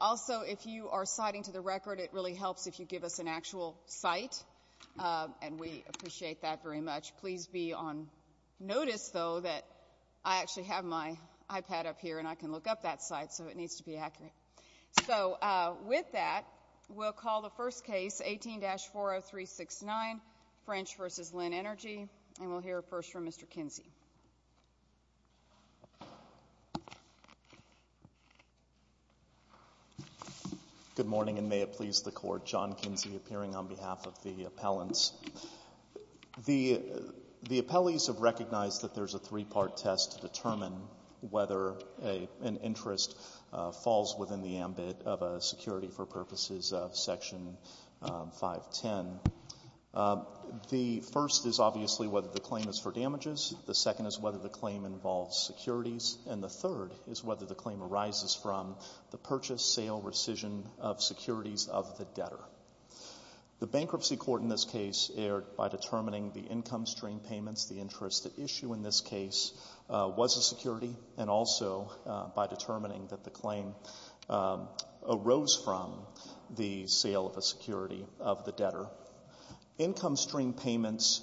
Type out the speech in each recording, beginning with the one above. Also, if you are citing to the record, it really helps if you give us an actual site, and we appreciate that very much. Please be on notice, though, that I actually have my iPad up here, and I can look up that site, so it needs to be accurate. So with that, we'll call the first case, 18-40369, French v. Linn Energy, and we'll hear first from Mr. Kinsey. Kinsey, Jr. Good morning, and may it please the Court. John Kinsey appearing on behalf of the appellants. The appellees have recognized that there's a three-part test to determine whether an interest falls within the ambit of a security for purposes of Section 510. The first is obviously whether the claim is for damages, the second is whether the claim involves securities, and the third is whether the claim arises from the purchase, sale, rescission of securities of the debtor. The bankruptcy court in this case, by determining the income stream payments, the interest at issue in this case was a security, and also by determining that the claim arose from the sale of a security of the debtor. Income stream payments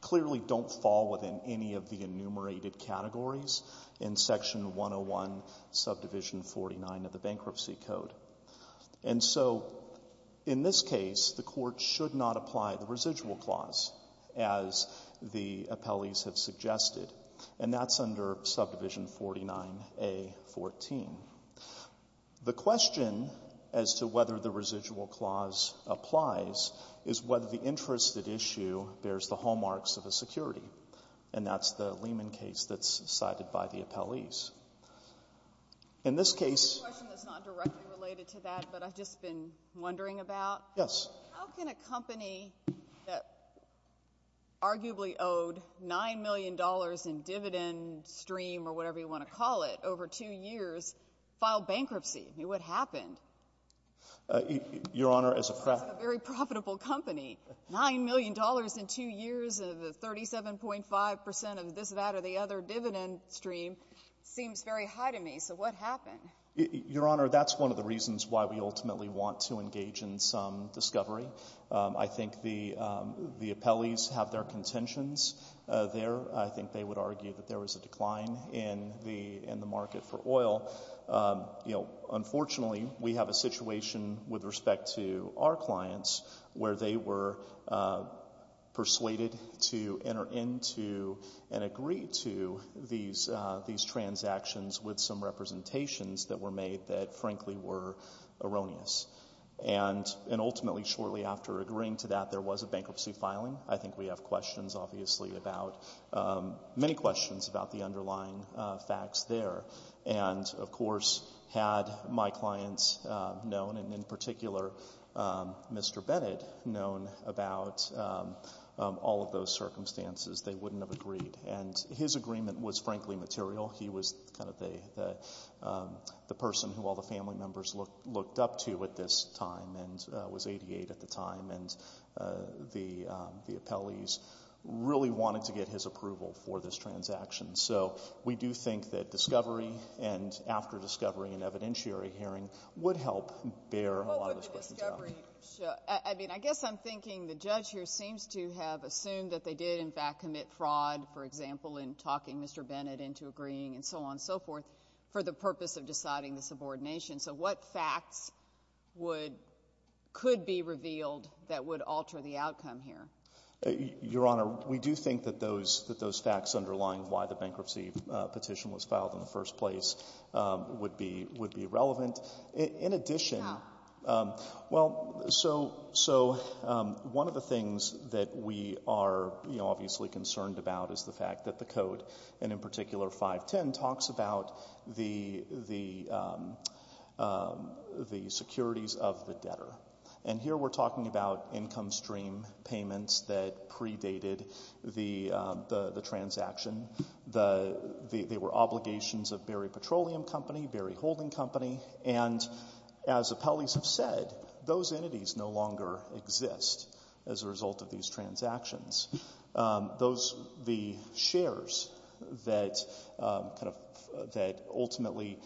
clearly don't fall within any of the enumerated categories in Section 101, Subdivision 49 of the Bankruptcy Code. And so in this case, the Court should not apply the residual clause, as the appellees have suggested, and that's under Subdivision 49A.14. The question as to whether the residual clause applies is whether the interest at issue bears the hallmarks of a security. And that's the Lehman case that's cited by the appellees. In this case — It's a question that's not directly related to that, but I've just been wondering about. Yes. How can a company that arguably owed $9 million in dividend stream or whatever you want to call it over two years file bankruptcy? I mean, what happened? Your Honor, as a — It's a very profitable company. $9 million in two years of the 37.5 percent of this, that, or the other dividend stream seems very high to me. So what happened? Your Honor, that's one of the reasons why we ultimately want to engage in some discovery. I think the appellees have their contentions there. I think they would argue that there was a decline in the market for oil. You know, unfortunately, we have a situation with respect to our clients where they were persuaded to enter into and agree to these transactions with some representations that were made that, frankly, were erroneous. And ultimately, shortly after agreeing to that, there was a bankruptcy filing. I think we have questions, obviously, about — many questions about the underlying facts there. And, of course, had my clients known, and in particular, Mr. Bennett, known about all of those circumstances, they wouldn't have agreed. And his agreement was, frankly, material. He was kind of the person who all the family members looked up to at this time and was 88 at the time. And the appellees really wanted to get his approval for this transaction. So we do think that discovery and after discovery and evidentiary hearing would help bear a lot of those questions down. What would the discovery show? I mean, I guess I'm thinking the judge here seems to have assumed that they did, in fact, commit fraud, for example, in talking Mr. Bennett into agreeing and so on and so forth for the purpose of deciding the subordination. So what facts would — could be revealed that would alter the outcome here? Your Honor, we do think that those facts underlying why the bankruptcy petition was filed in the first place would be relevant. In addition — How? Well, so one of the things that we are, you know, obviously concerned about is the securities of the debtor. And here we're talking about income stream payments that predated the transaction. They were obligations of Barry Petroleum Company, Barry Holding Company. And as appellees have said, those entities no longer exist as a result of these transactions. Those — the shares that kind of — that ultimately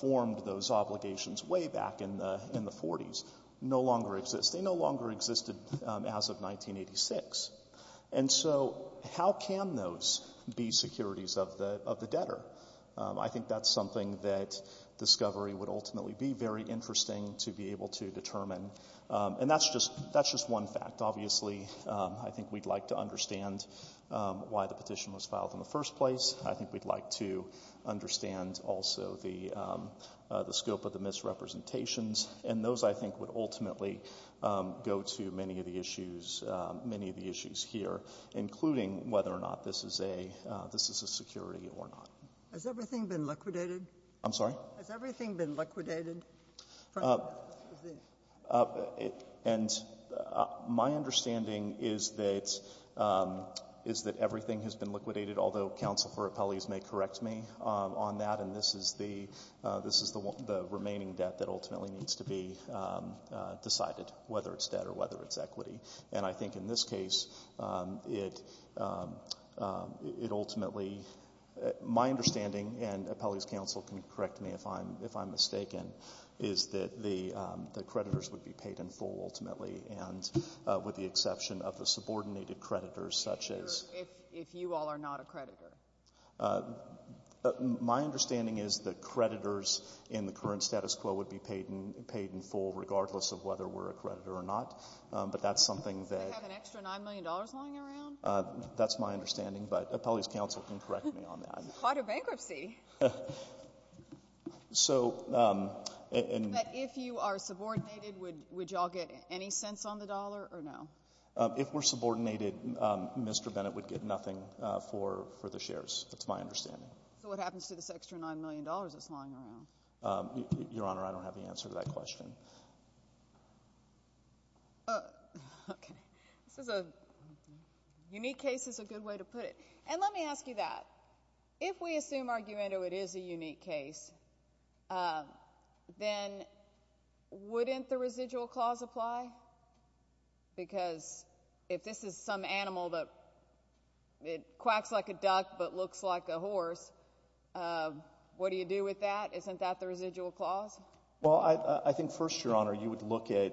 formed those obligations way back in the 40s no longer exist. They no longer existed as of 1986. And so how can those be securities of the debtor? I think that's something that discovery would ultimately be very interesting to be able to determine. And that's just — that's just one fact. Obviously, I think we'd like to understand why the petition was filed in the first place. I think we'd like to understand also the scope of the misrepresentations. And those, I think, would ultimately go to many of the issues — many of the issues here, including whether or not this is a — this is a security or not. Has everything been liquidated? I'm sorry? Has everything been liquidated? And my understanding is that — is that everything has been liquidated, although counsel for appellees may correct me on that. And this is the — this is the remaining debt that ultimately needs to be decided, whether it's debt or whether it's equity. And I think in this case, it ultimately — my understanding, and appellees' counsel can correct me if I'm mistaken, is that the creditors would be paid in full, ultimately, and with the exception of the subordinated creditors, such as — If you all are not a creditor. My understanding is that creditors in the current status quo would be paid in full, regardless of whether we're a creditor or not. But that's something that — Do they have an extra $9 million lying around? That's my understanding, but appellees' counsel can correct me on that. This is quite a bankruptcy. So — But if you are subordinated, would you all get any cents on the dollar or no? If we're subordinated, Mr. Bennett would get nothing for the shares. That's my understanding. So what happens to this extra $9 million that's lying around? Your Honor, I don't have the answer to that question. Okay. This is a — unique case is a good way to put it. And let me ask you that. If we assume, argumento, it is a unique case, then wouldn't the residual clause apply? Because if this is some animal that quacks like a duck but looks like a horse, what do you do with that? Isn't that the residual clause? Well, I think, first, Your Honor, you would look at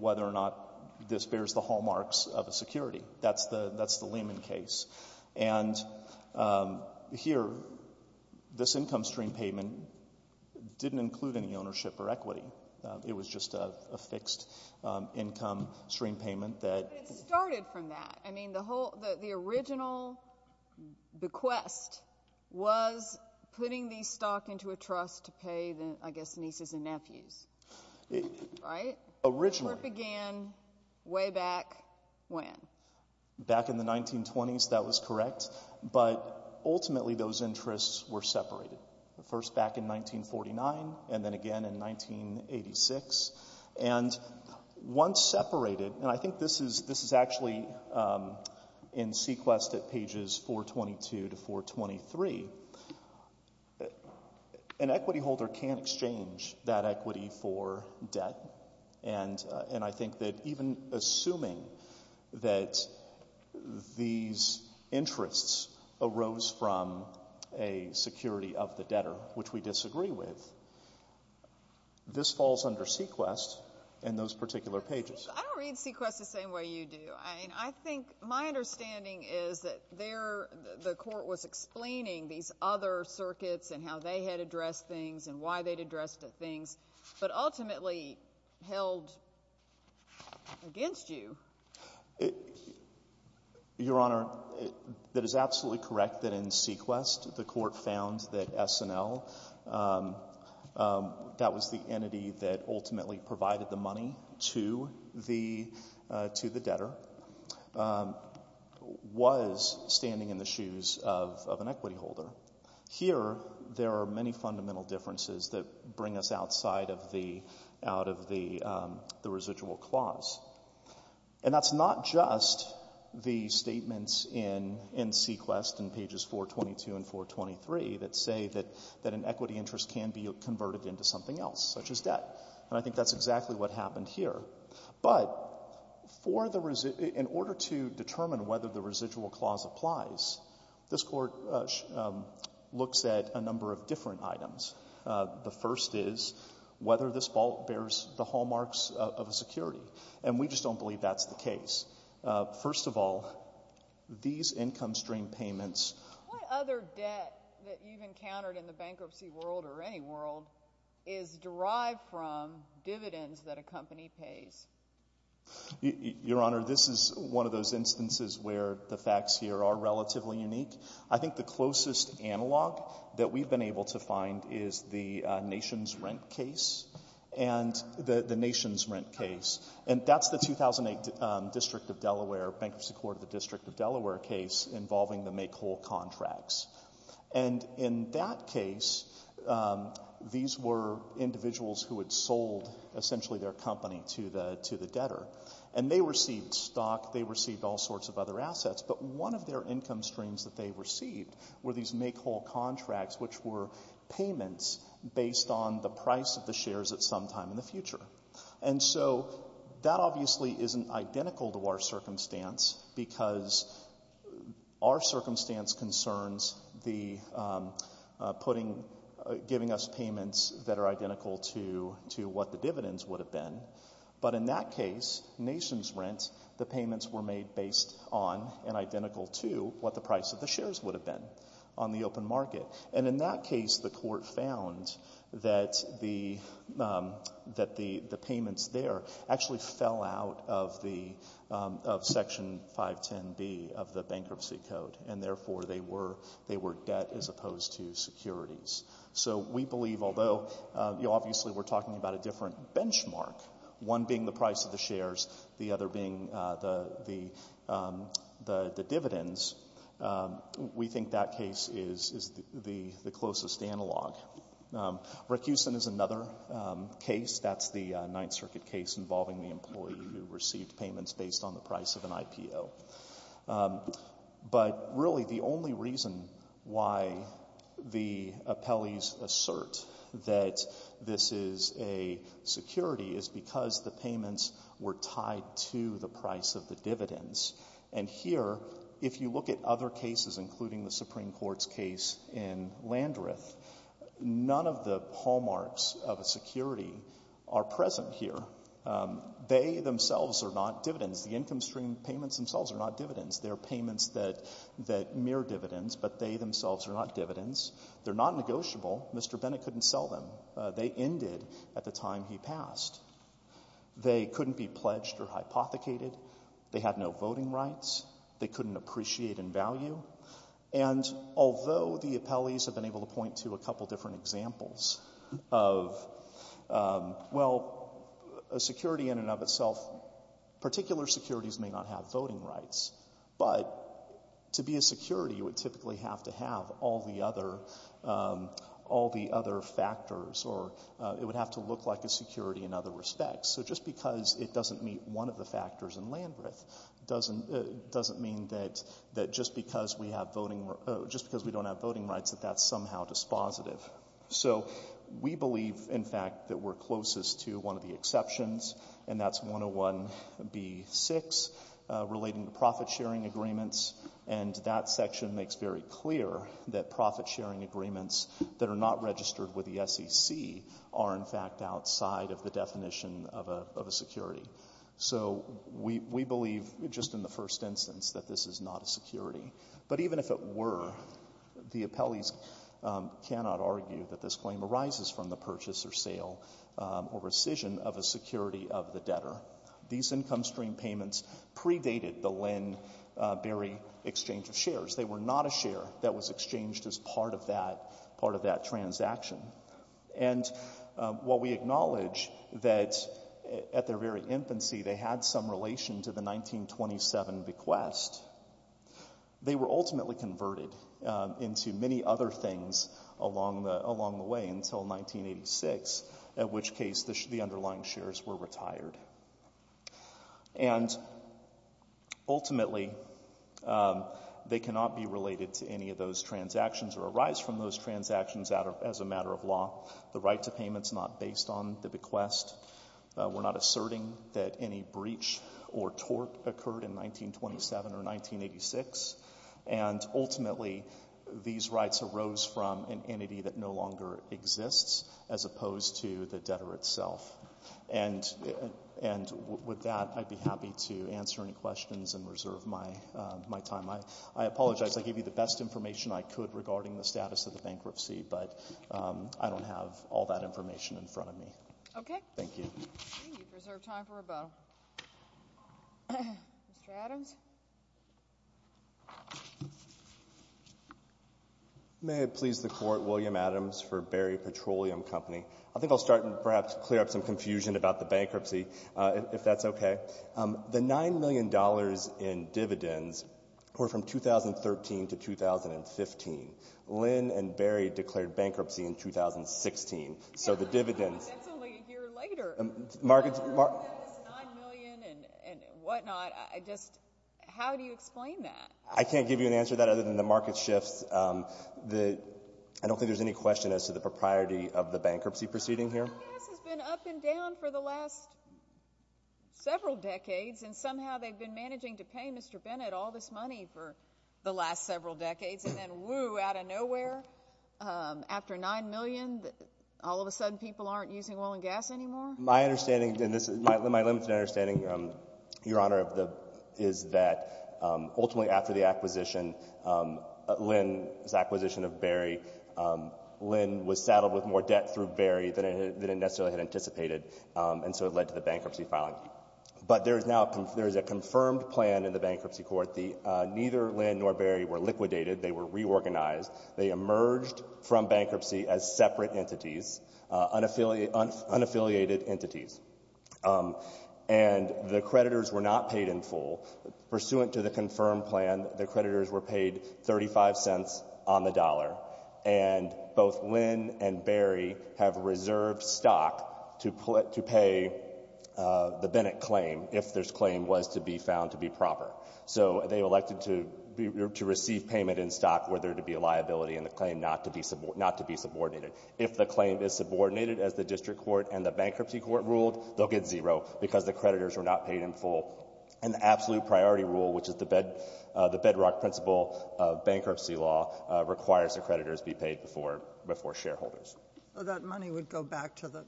whether or not this bears the hallmarks of a security. That's the Lehman case. And here, this income stream payment didn't include any ownership or equity. It was just a fixed income stream payment that — But it started from that. I mean, the original bequest was putting the stock into a trust to pay, I guess, nieces and nephews. Right? Originally — Back in the 1920s, that was correct. But ultimately those interests were separated, first back in 1949 and then again in 1986. And once separated — and I think this is actually in Sequest at pages 422 to 423 — an equity holder can't exchange that equity for debt. And I think that even assuming that these interests arose from a security of the debtor, which we disagree with, this falls under Sequest in those particular pages. I don't read Sequest the same way you do. I mean, I think my understanding is that there the court was explaining these other circuits and how they had addressed things and why they'd addressed things. But ultimately held against you. Your Honor, that is absolutely correct that in Sequest the court found that SNL, that was the entity that ultimately provided the money to the debtor, was standing in the shoes of an equity holder. Here, there are many fundamental differences that bring us outside of the — out of the residual clause. And that's not just the statements in Sequest in pages 422 and 423 that say that an equity interest can be converted into something else, such as debt. And I think that's exactly what happened here. But for the — in order to determine whether the residual clause applies, this court looks at a number of different items. The first is whether this ball bears the hallmarks of a security. And we just don't believe that's the case. First of all, these income stream payments — What other debt that you've encountered in the bankruptcy world, or any world, is derived from dividends that a company pays? Your Honor, this is one of those instances where the facts here are relatively unique. I think the closest analog that we've been able to find is the nation's rent case. And the nation's rent case. And that's the 2008 District of Delaware, Bankruptcy Court of the District of Delaware case, involving the make-whole contracts. And in that case, these were individuals who had sold, essentially, their company to the debtor. And they received stock. They received all sorts of other assets. But one of their income streams that they received were these make-whole contracts, which were payments based on the price of the shares at some time in the future. And so that obviously isn't identical to our circumstance because our circumstance concerns giving us payments that are identical to what the dividends would have been. But in that case, nation's rent, the payments were made based on and identical to what the price of the shares would have been on the open market. And in that case, the court found that the payments there actually fell out of Section 510B of the Bankruptcy Code. And therefore, they were debt as opposed to securities. So we believe, although obviously we're talking about a different benchmark, one being the price of the shares, the other being the dividends, we think that case is the closest analog. Racoosin is another case. That's the Ninth Circuit case involving the employee who received payments based on the price of an IPO. But really, the only reason why the appellees assert that this is a security is because the payments were tied to the price of the dividends. And here, if you look at other cases, including the Supreme Court's case in Landreth, none of the hallmarks of a security are present here. They themselves are not dividends. The income stream payments themselves are not dividends. They're payments that mirror dividends, but they themselves are not dividends. They're not negotiable. Mr. Bennett couldn't sell them. They ended at the time he passed. They couldn't be pledged or hypothecated. They had no voting rights. They couldn't appreciate in value. And although the appellees have been able to point to a couple different examples of, well, a security in and of itself, particular securities may not have voting rights, but to be a security, you would typically have to have all the other factors or it would have to look like a security in other respects. So just because it doesn't meet one of the factors in Landreth doesn't mean that just because we don't have voting rights that that's somehow dispositive. So we believe, in fact, that we're closest to one of the exceptions, and that's 101B6 relating to profit-sharing agreements. And that section makes very clear that profit-sharing agreements that are not registered with the SEC are, in fact, outside of the definition of a security. So we believe, just in the first instance, that this is not a security. But even if it were, the appellees cannot argue that this claim arises from the purchase or sale or rescission of a security of the debtor. These income stream payments predated the Linn-Berry exchange of shares. They were not a share that was exchanged as part of that transaction. And while we acknowledge that at their very infancy they had some relation to the 1927 bequest, they were ultimately converted into many other things along the way until 1986, at which case the underlying shares were retired. And ultimately, they cannot be related to any of those transactions or arise from those transactions as a matter of law. The right to payment is not based on the bequest. We're not asserting that any breach or tort occurred in 1927 or 1986. And ultimately, these rights arose from an entity that no longer exists as opposed to the debtor itself. And with that, I'd be happy to answer any questions and reserve my time. I apologize. I gave you the best information I could regarding the status of the bankruptcy, but I don't have all that information in front of me. Thank you. Thank you. We reserve time for rebuttal. Mr. Adams. May it please the Court, William Adams for Berry Petroleum Company. I think I'll start and perhaps clear up some confusion about the bankruptcy, if that's okay. The $9 million in dividends were from 2013 to 2015. Lynn and Berry declared bankruptcy in 2016. So the dividends— That's only a year later. Market— You said it's $9 million and whatnot. I just—how do you explain that? I can't give you an answer to that other than the market shifts. I don't think there's any question as to the propriety of the bankruptcy proceeding here. Well, oil and gas has been up and down for the last several decades, and somehow they've been managing to pay Mr. Bennett all this money for the last several decades, and then, woo, out of nowhere, after $9 million, all of a sudden people aren't using oil and gas anymore? My understanding, and this is my limited understanding, Your Honor, is that ultimately after the acquisition, Lynn's acquisition of Berry, Lynn was saddled with more debt through Berry than it necessarily had anticipated, and so it led to the bankruptcy filing. But there is now a—there is a confirmed plan in the Bankruptcy Court. Neither Lynn nor Berry were liquidated. They were reorganized. They emerged from bankruptcy as separate entities, unaffiliated entities. And the creditors were not paid in full. Pursuant to the confirmed plan, the creditors were paid 35 cents on the dollar, and both Lynn and Berry have reserved stock to pay the Bennett claim if this claim was to be found to be proper. So they elected to receive payment in stock were there to be a liability in the claim not to be subordinated. If the claim is subordinated, as the District Court and the Bankruptcy Court ruled, they'll get zero because the creditors were not paid in full. And the absolute priority rule, which is the bedrock principle of bankruptcy law, requires the creditors be paid before shareholders. So that money would go back to the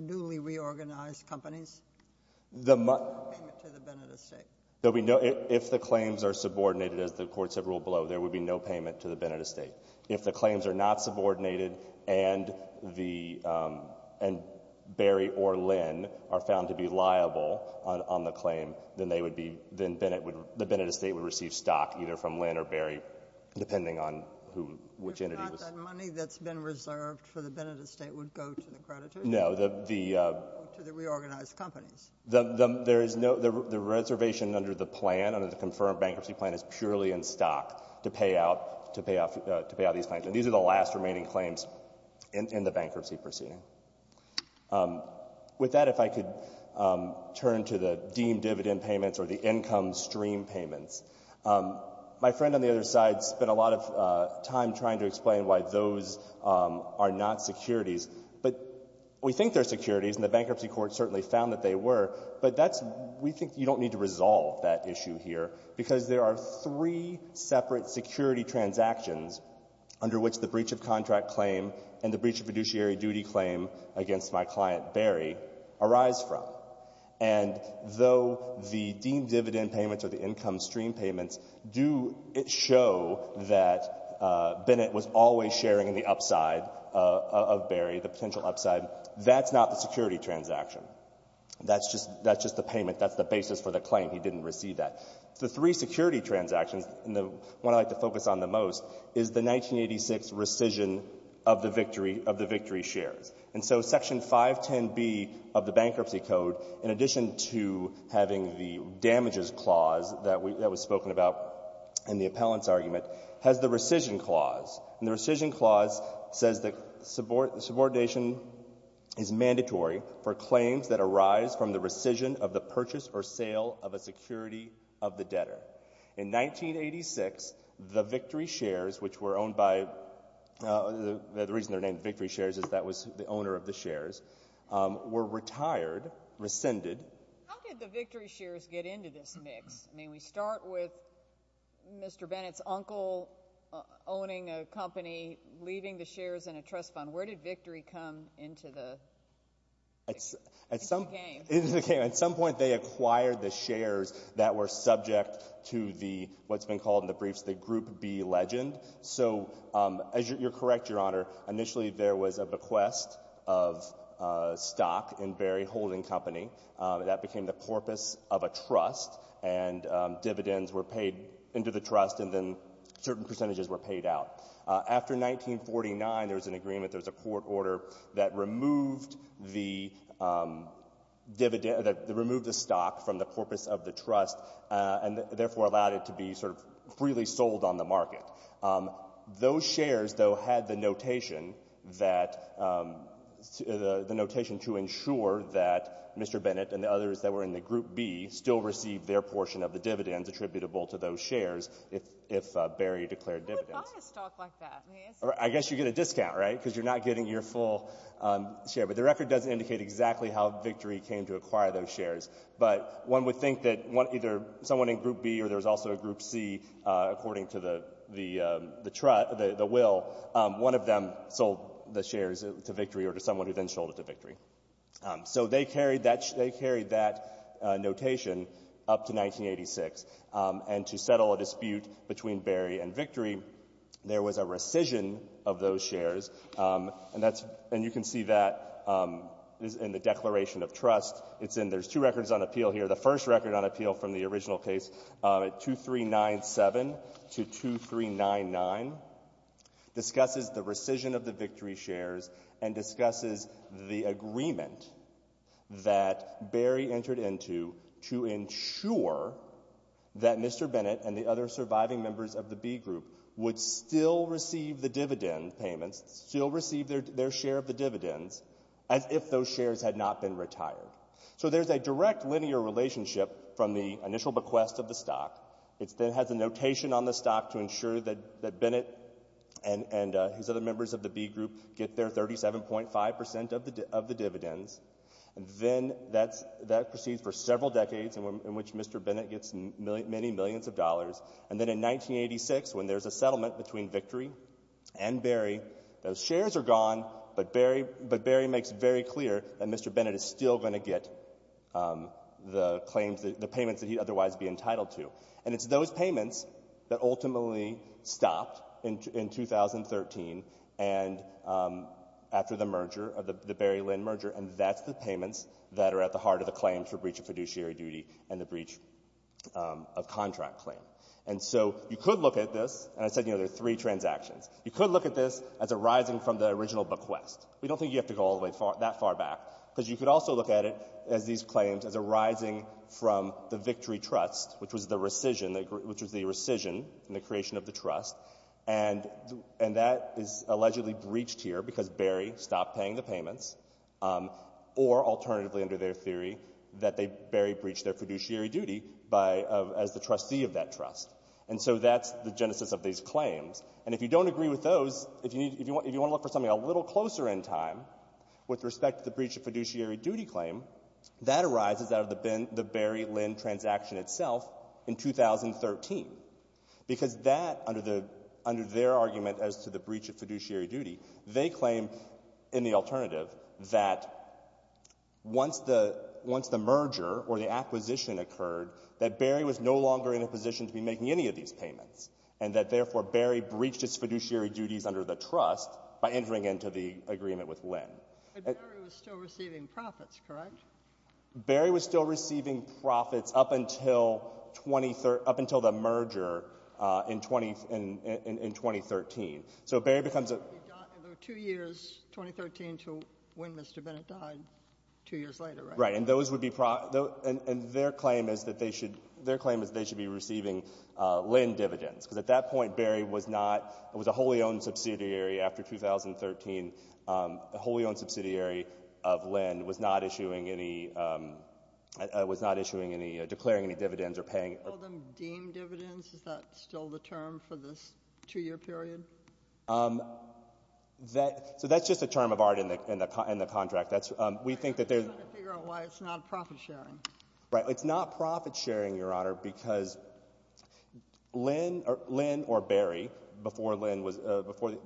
newly reorganized companies? The— No payment to the Bennett estate. There would be no—if the claims are subordinated, as the courts have ruled below, there would be no payment to the Bennett estate. If the claims are not subordinated and the — and Berry or Lynn are found to be liable on the claim, then they would be — then Bennett would — the Bennett estate would receive stock either from Lynn or Berry, depending on who — which entity was — But not that money that's been reserved for the Bennett estate would go to the creditors? No. To the reorganized companies. There is no — the reservation under the plan, under the confirmed bankruptcy plan, is purely in stock to pay out — to pay out these claims. And these are the last remaining claims in the bankruptcy proceeding. With that, if I could turn to the deemed dividend payments or the income stream payments. My friend on the other side spent a lot of time trying to explain why those are not securities. But we think they're securities, and the Bankruptcy Court certainly found that they were. But that's — we think you don't need to resolve that issue here, because there are three separate security transactions under which the breach of contract claim and the breach of fiduciary duty claim against my client Berry arise from. And though the deemed dividend payments or the income stream payments do show that Bennett was always sharing in the upside of Berry, the potential upside, that's not the security transaction. That's just — that's just the payment. That's the basis for the claim. He didn't receive that. The three security transactions, and the one I like to focus on the most, is the 1986 rescission of the victory — of the victory shares. And so Section 510B of the Bankruptcy Code, in addition to having the damages clause that was spoken about in the appellant's argument, has the rescission clause. And the rescission clause says that subordination is mandatory for claims that arise from the rescission of the purchase or sale of a security of the debtor. In 1986, the victory shares, which were owned by — the reason they're named victory shares is that was the owner of the shares, were retired, rescinded. How did the victory shares get into this mix? May we start with Mr. Bennett's uncle owning a company, leaving the shares in a trust fund. Where did victory come into the game? At some point, they acquired the shares that were subject to the — what's been called in the briefs the Group B legend. So you're correct, Your Honor. Initially, there was a bequest of stock in Berry Holding Company. That became the corpus of a trust, and dividends were paid into the trust, and then certain percentages were paid out. After 1949, there was an agreement, there was a court order, that removed the dividend — that removed the stock from the corpus of the trust and therefore allowed it to be sort of freely sold on the market. Those shares, though, had the notation that — the notation to ensure that Mr. Bennett and the others that were in the Group B still received their portion of the dividends attributable to those shares if Berry declared dividends. Who would buy a stock like that? I guess you get a discount, right? Because you're not getting your full share. But the record doesn't indicate exactly how victory came to acquire those shares. But one would think that either someone in Group B or there was also a Group C, according to the will, one of them sold the shares to victory or to someone who then sold it to victory. So they carried that — they carried that notation up to 1986. And to settle a dispute between Berry and victory, there was a rescission of those shares. And that's — and you can see that in the Declaration of Trust. It's in — there's two records on appeal here. The first record on appeal from the original case, at 2397 to 2399, discusses the rescission of the victory shares and discusses the agreement that Berry entered into to ensure that Mr. Bennett and the other surviving members of the B Group would still receive the dividend payments, still receive their share of the dividends, as if those shares had not been retired. So there's a direct linear relationship from the initial bequest of the stock. It then has a notation on the stock to ensure that Bennett and his other members of the B Group get their 37.5 percent of the dividends. And then that proceeds for several decades, in which Mr. Bennett gets many millions of dollars. And then in 1986, when there's a settlement between victory and Berry, those shares are gone, but Berry makes it very clear that Mr. Bennett is still going to get the claims — the payments that he'd otherwise be entitled to. And it's those payments that ultimately stopped in 2013 and — after the merger, the Berry-Lynn merger, and that's the payments that are at the heart of the claims for breach of fiduciary duty and the breach of contract claim. And so you could look at this — and I said, you know, there are three transactions. You could look at this as arising from the original bequest. We don't think you have to go all the way — that far back. Because you could also look at it as these claims as arising from the victory trust, which was the rescission — which was the rescission and the creation of the trust, and that is allegedly breached here because Berry stopped paying the payments, or alternatively under their theory that they — Berry breached their fiduciary duty by — as the trustee of that trust. And so that's the genesis of these claims. And if you don't agree with those, if you want to look for something a little closer in time with respect to the breach of fiduciary duty claim, that arises out of the Berry-Lynn transaction itself in 2013. Because that, under their argument as to the breach of fiduciary duty, they claim in the alternative that once the — once the merger or the acquisition occurred, that Berry was no longer in a position to be making any of these payments, and that, therefore, Berry breached its fiduciary duties under the trust by entering into the agreement with Lynn. But Berry was still receiving profits, correct? Berry was still receiving profits up until the merger in 2013. So Berry becomes a — And there were two years, 2013 to when Mr. Bennett died, two years later, right? Right. And those would be — and their claim is that they should — their claim is they should be receiving Lynn dividends. Because at that point, Berry was not — it was a wholly-owned subsidiary after 2013. A wholly-owned subsidiary of Lynn was not issuing any — was not issuing any — declaring any dividends or paying — You called them deemed dividends? Is that still the term for this two-year period? That — so that's just a term of art in the contract. That's — we think that there's — I'm just trying to figure out why it's not profit-sharing. Right. It's not profit-sharing, Your Honor, because Lynn or Berry, before Lynn was —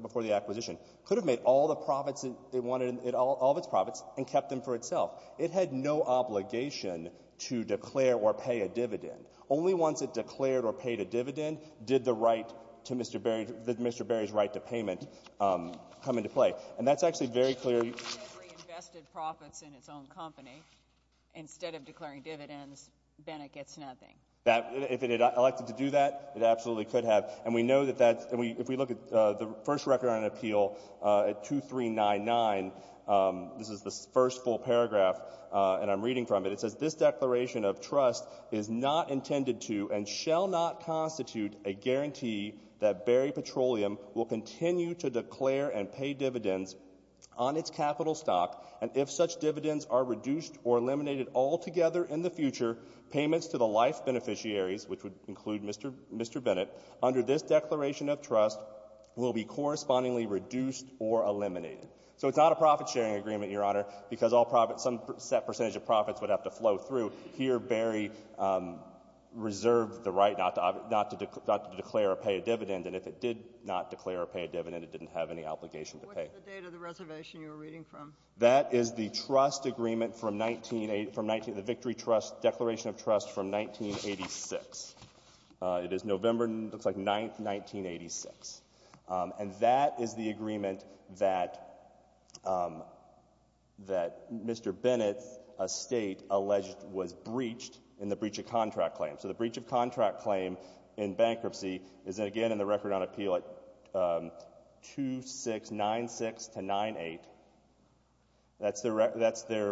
before the acquisition, could have made all the profits that they wanted, all of its profits, and kept them for itself. It had no obligation to declare or pay a dividend. Only once it declared or paid a dividend did the right to Mr. Berry — Mr. Berry's right to payment come into play. And that's actually very clear. If Berry invested profits in its own company instead of declaring dividends, Bennett gets nothing. If it had elected to do that, it absolutely could have. And we know that that — if we look at the first record on an appeal at 2399, this is the first full paragraph, and I'm reading from it. It says, this declaration of trust is not intended to and shall not constitute a guarantee that Berry Petroleum will continue to declare and pay dividends on its capital stock, and if such dividends are reduced or eliminated altogether in the future, payments to the life beneficiaries, which would include Mr. Bennett, under this declaration of trust will be correspondingly reduced or eliminated. So it's not a profit-sharing agreement, Your Honor, because all profits — some set percentage of profits would have to flow through. Here, Berry reserved the right not to declare or pay a dividend, and if it did not declare or pay a dividend, it didn't have any obligation to pay. What's the date of the reservation you were reading from? That is the trust agreement from — the Victory Trust Declaration of Trust from 1986. It is November, looks like, 9th, 1986. And that is the agreement that Mr. Bennett, a state, alleged was breached in the breach of contract claim. So the breach of contract claim in bankruptcy is, again, in the record on appeal at 2696-98. That's their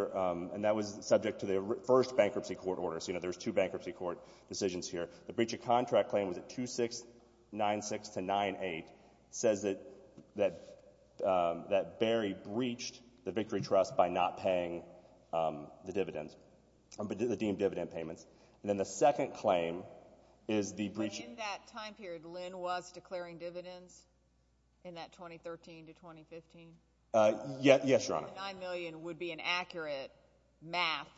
— and that was subject to the first bankruptcy court order, so, you know, there's two bankruptcy court decisions here. The breach of contract claim was at 2696-98. It says that Berry breached the Victory Trust by not paying the dividends, the deemed dividend payments. And then the second claim is the breach — But in that time period, Lynn was declaring dividends in that 2013 to 2015? Yes, Your Honor. Do you think that $9 million would be an accurate math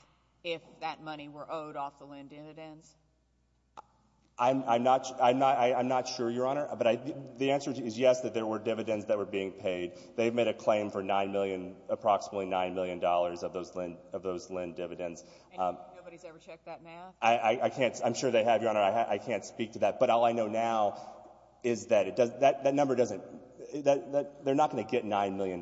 if that money were owed off the Lynn dividends? I'm not sure, Your Honor, but the answer is yes, that there were dividends that were being paid. They've made a claim for $9 million, approximately $9 million of those Lynn dividends. And nobody's ever checked that math? I can't — I'm sure they have, Your Honor. I can't speak to that. But all I know now is that it does — that number doesn't — they're not going to get $9 million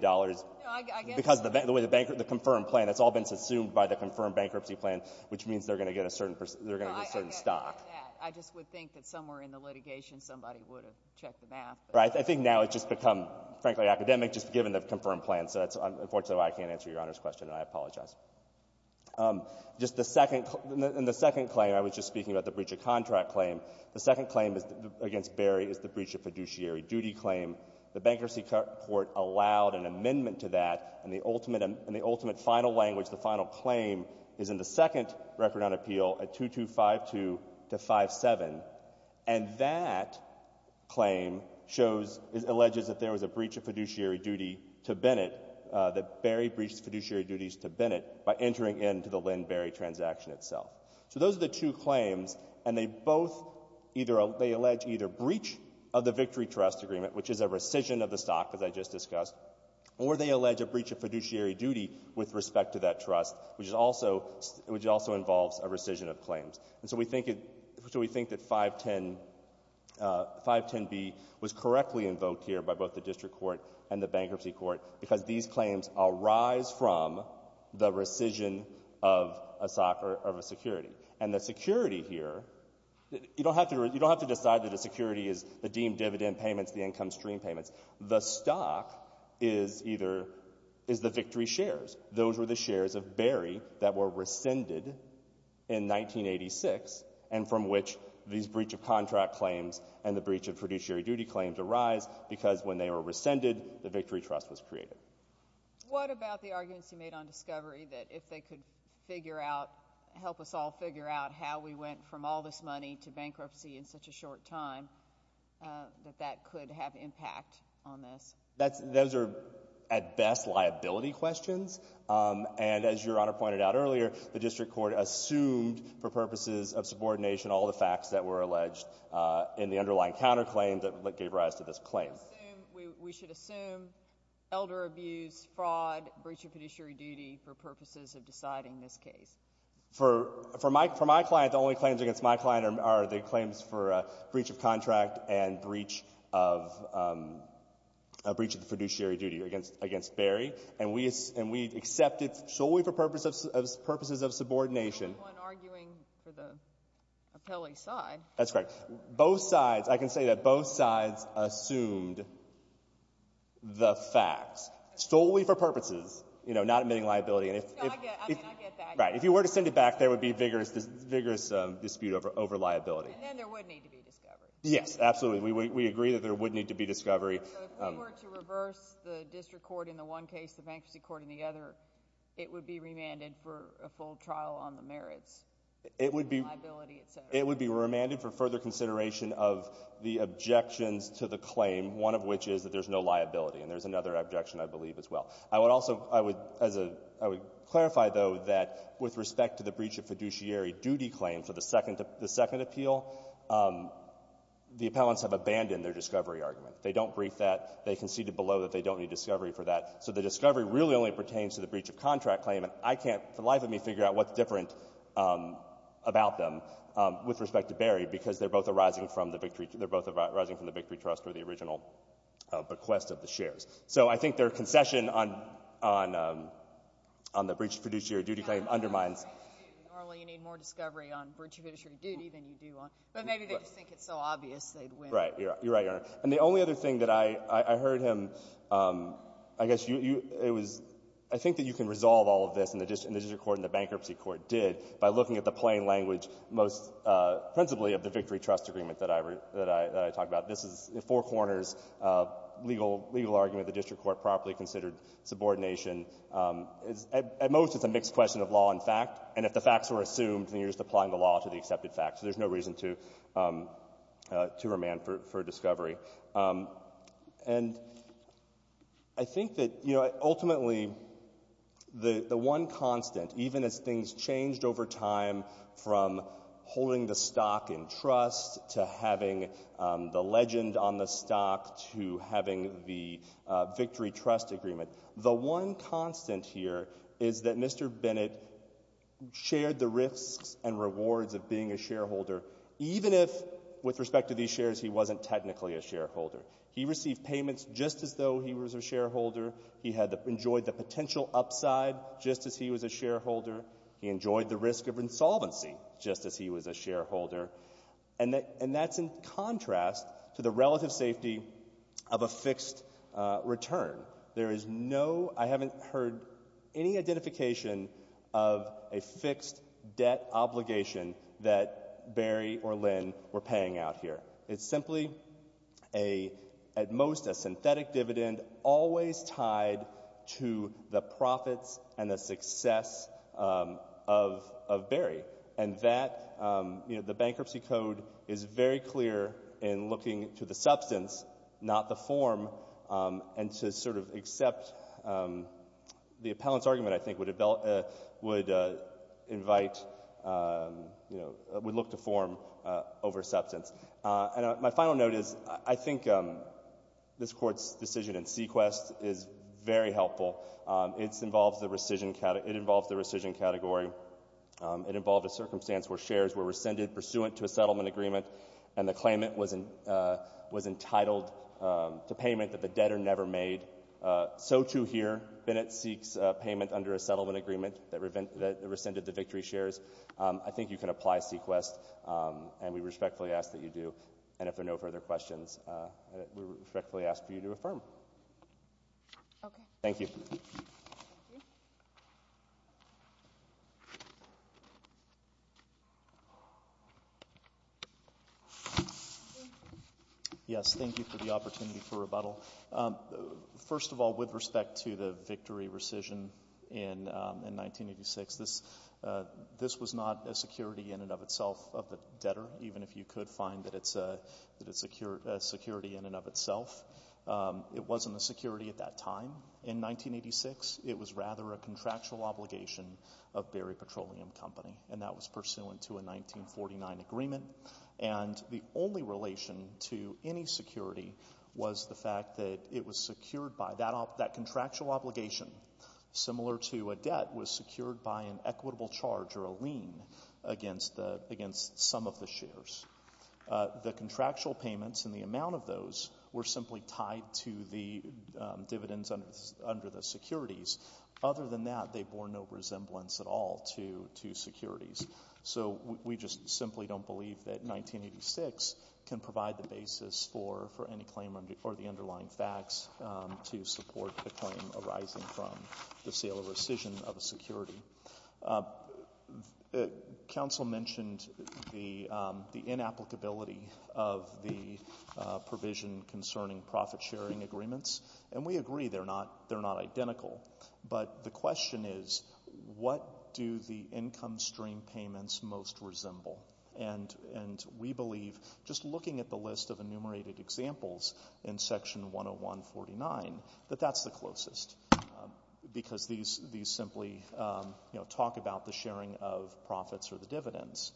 because of the way the confirmed plan — it's all been subsumed by the confirmed bankruptcy plan, which means they're going to get a certain — they're going to get a certain stock. I just would think that somewhere in the litigation somebody would have checked the math. Right. I think now it's just become, frankly, academic just given the confirmed plan. So that's unfortunately why I can't answer Your Honor's question, and I apologize. Just the second — in the second claim, I was just speaking about the breach of contract claim. The second claim against Berry is the breach of fiduciary duty claim. The bankruptcy court allowed an amendment to that. And the ultimate final language, the final claim, is in the second record on appeal at 2252-57. And that claim shows — alleges that there was a breach of fiduciary duty to Bennett, that Berry breached fiduciary duties to Bennett by entering into the Lynn-Berry transaction itself. So those are the two claims. And they both either — they allege either breach of the victory trust agreement, which is a rescission of the stock, as I just discussed, or they allege a breach of fiduciary duty with respect to that trust, which is also — which also involves a rescission of claims. And so we think — so we think that 510 — 510B was correctly invoked here by both the district court and the bankruptcy court because these claims arise from the rescission of a — of a security. And the security here — you don't have to — you don't have to decide that a security is the deemed dividend payments, the income stream payments. The stock is either — is the victory shares. Those were the shares of Berry that were rescinded in 1986 and from which these breach of contract claims and the breach of fiduciary duty claims arise because when they were rescinded, the victory trust was created. What about the arguments you made on discovery that if they could figure out — help us all figure out how we went from all this money to bankruptcy in such a short time, that that could have impact on this? That's — those are, at best, liability questions. And as Your Honor pointed out earlier, the district court assumed for purposes of subordination all the facts that were alleged in the underlying counterclaim that gave rise to this claim. So we should assume elder abuse, fraud, breach of fiduciary duty for purposes of deciding this case. For my client, the only claims against my client are the claims for breach of contract and breach of fiduciary duty against Berry. And we accept it solely for purposes of subordination. Anyone arguing for the appellee side. That's correct. Both sides. I can say that both sides assumed the facts solely for purposes, you know, not admitting liability. No, I get that. Right. If you were to send it back, there would be vigorous dispute over liability. And then there would need to be discovery. Yes, absolutely. We agree that there would need to be discovery. So if we were to reverse the district court in the one case, the bankruptcy court in the other, it would be remanded for a full trial on the merits, liability, et cetera. It would be remanded for further consideration of the objections to the claim, one of which is that there's no liability. And there's another objection, I believe, as well. I would also, I would, as a, I would clarify, though, that with respect to the breach of fiduciary duty claim for the second appeal, the appellants have abandoned their discovery argument. They don't brief that. They conceded below that they don't need discovery for that. So the discovery really only pertains to the breach of contract claim. And I can't, for the life of me, figure out what's different about them. With respect to Berry, because they're both arising from the Victory, they're both arising from the Victory Trust or the original bequest of the shares. So I think their concession on, on, on the breach of fiduciary duty claim undermines. Normally you need more discovery on breach of fiduciary duty than you do on, but maybe they just think it's so obvious they'd win. Right. You're right, Your Honor. And the only other thing that I, I heard him, I guess you, you, it was, I think that you can resolve all of this, and the district court and the bankruptcy court did, by looking at the plain language, most principally of the Victory Trust agreement that I, that I, that I talk about. This is four corners legal, legal argument the district court properly considered subordination. At most it's a mixed question of law and fact, and if the facts were assumed, then you're just applying the law to the accepted facts. So there's no reason to, to remand for, for discovery. And I think that, you know, ultimately the, the one constant, even as things changed over time from holding the stock in trust to having the legend on the stock to having the Victory Trust agreement, the one constant here is that Mr. Bennett shared the risks and rewards of being a shareholder, even if, with respect to these shares, he wasn't technically a shareholder. He received payments just as though he was a shareholder. He had enjoyed the potential upside just as he was a shareholder. He enjoyed the risk of insolvency just as he was a shareholder. And that, and that's in contrast to the relative safety of a fixed return. There is no, I haven't heard any identification of a fixed debt obligation that Barry or Lynn were paying out here. It's simply a, at most a synthetic dividend always tied to the profits and the success of, of Barry. And that, you know, the Bankruptcy Code is very clear in looking to the substance, not the form, and to sort of accept the appellant's argument, I think, would invite, you know, would look to form over substance. And my final note is I think this Court's decision in Sequest is very helpful. It involves the rescission category. It involved a circumstance where shares were rescinded pursuant to a settlement agreement and the claimant was entitled to payment that the debtor never made. So, too, here Bennett seeks payment under a settlement agreement that rescinded the victory shares. I think you can apply Sequest, and we respectfully ask that you do. And if there are no further questions, we respectfully ask for you to affirm. Okay. Thank you. Yes, thank you for the opportunity for rebuttal. First of all, with respect to the victory rescission in 1986, this was not a security in and of itself of the debtor, even if you could find that it's a security in and of itself. It wasn't a security at that time in 1986. It was rather a contractual obligation of Barry Petroleum Company, and that was pursuant to a 1949 agreement. And the only relation to any security was the fact that it was secured by that contractual obligation, similar to a debt was secured by an equitable charge or a lien against some of the shares. The contractual payments and the amount of those were simply tied to the dividends under the securities. Other than that, they bore no resemblance at all to securities. So we just simply don't believe that 1986 can provide the basis for any claim or the underlying facts to support the claim arising from the sale or rescission of a security. Council mentioned the inapplicability of the provision concerning profit-sharing agreements, and we agree they're not identical. But the question is, what do the income stream payments most resemble? And we believe, just looking at the list of enumerated examples in Section 101.49, that that's the closest because these simply talk about the sharing of profits or the dividends.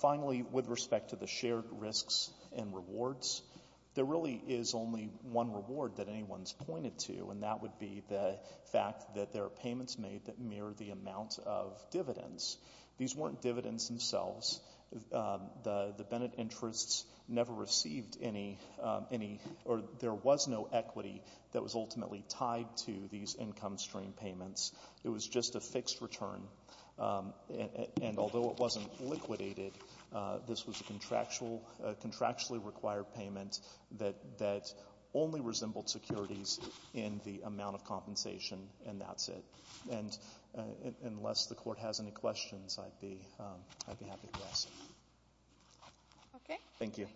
Finally, with respect to the shared risks and rewards, there really is only one reward that anyone's pointed to, and that would be the fact that there are payments made that mirror the amount of dividends. These weren't dividends themselves. The Bennett interests never received any or there was no equity that was ultimately tied to these income stream payments. It was just a fixed return. And although it wasn't liquidated, this was a contractually required payment that only resembled securities in the amount of compensation, and that's it. Unless the court has any questions, I'd be happy to ask. Thank you.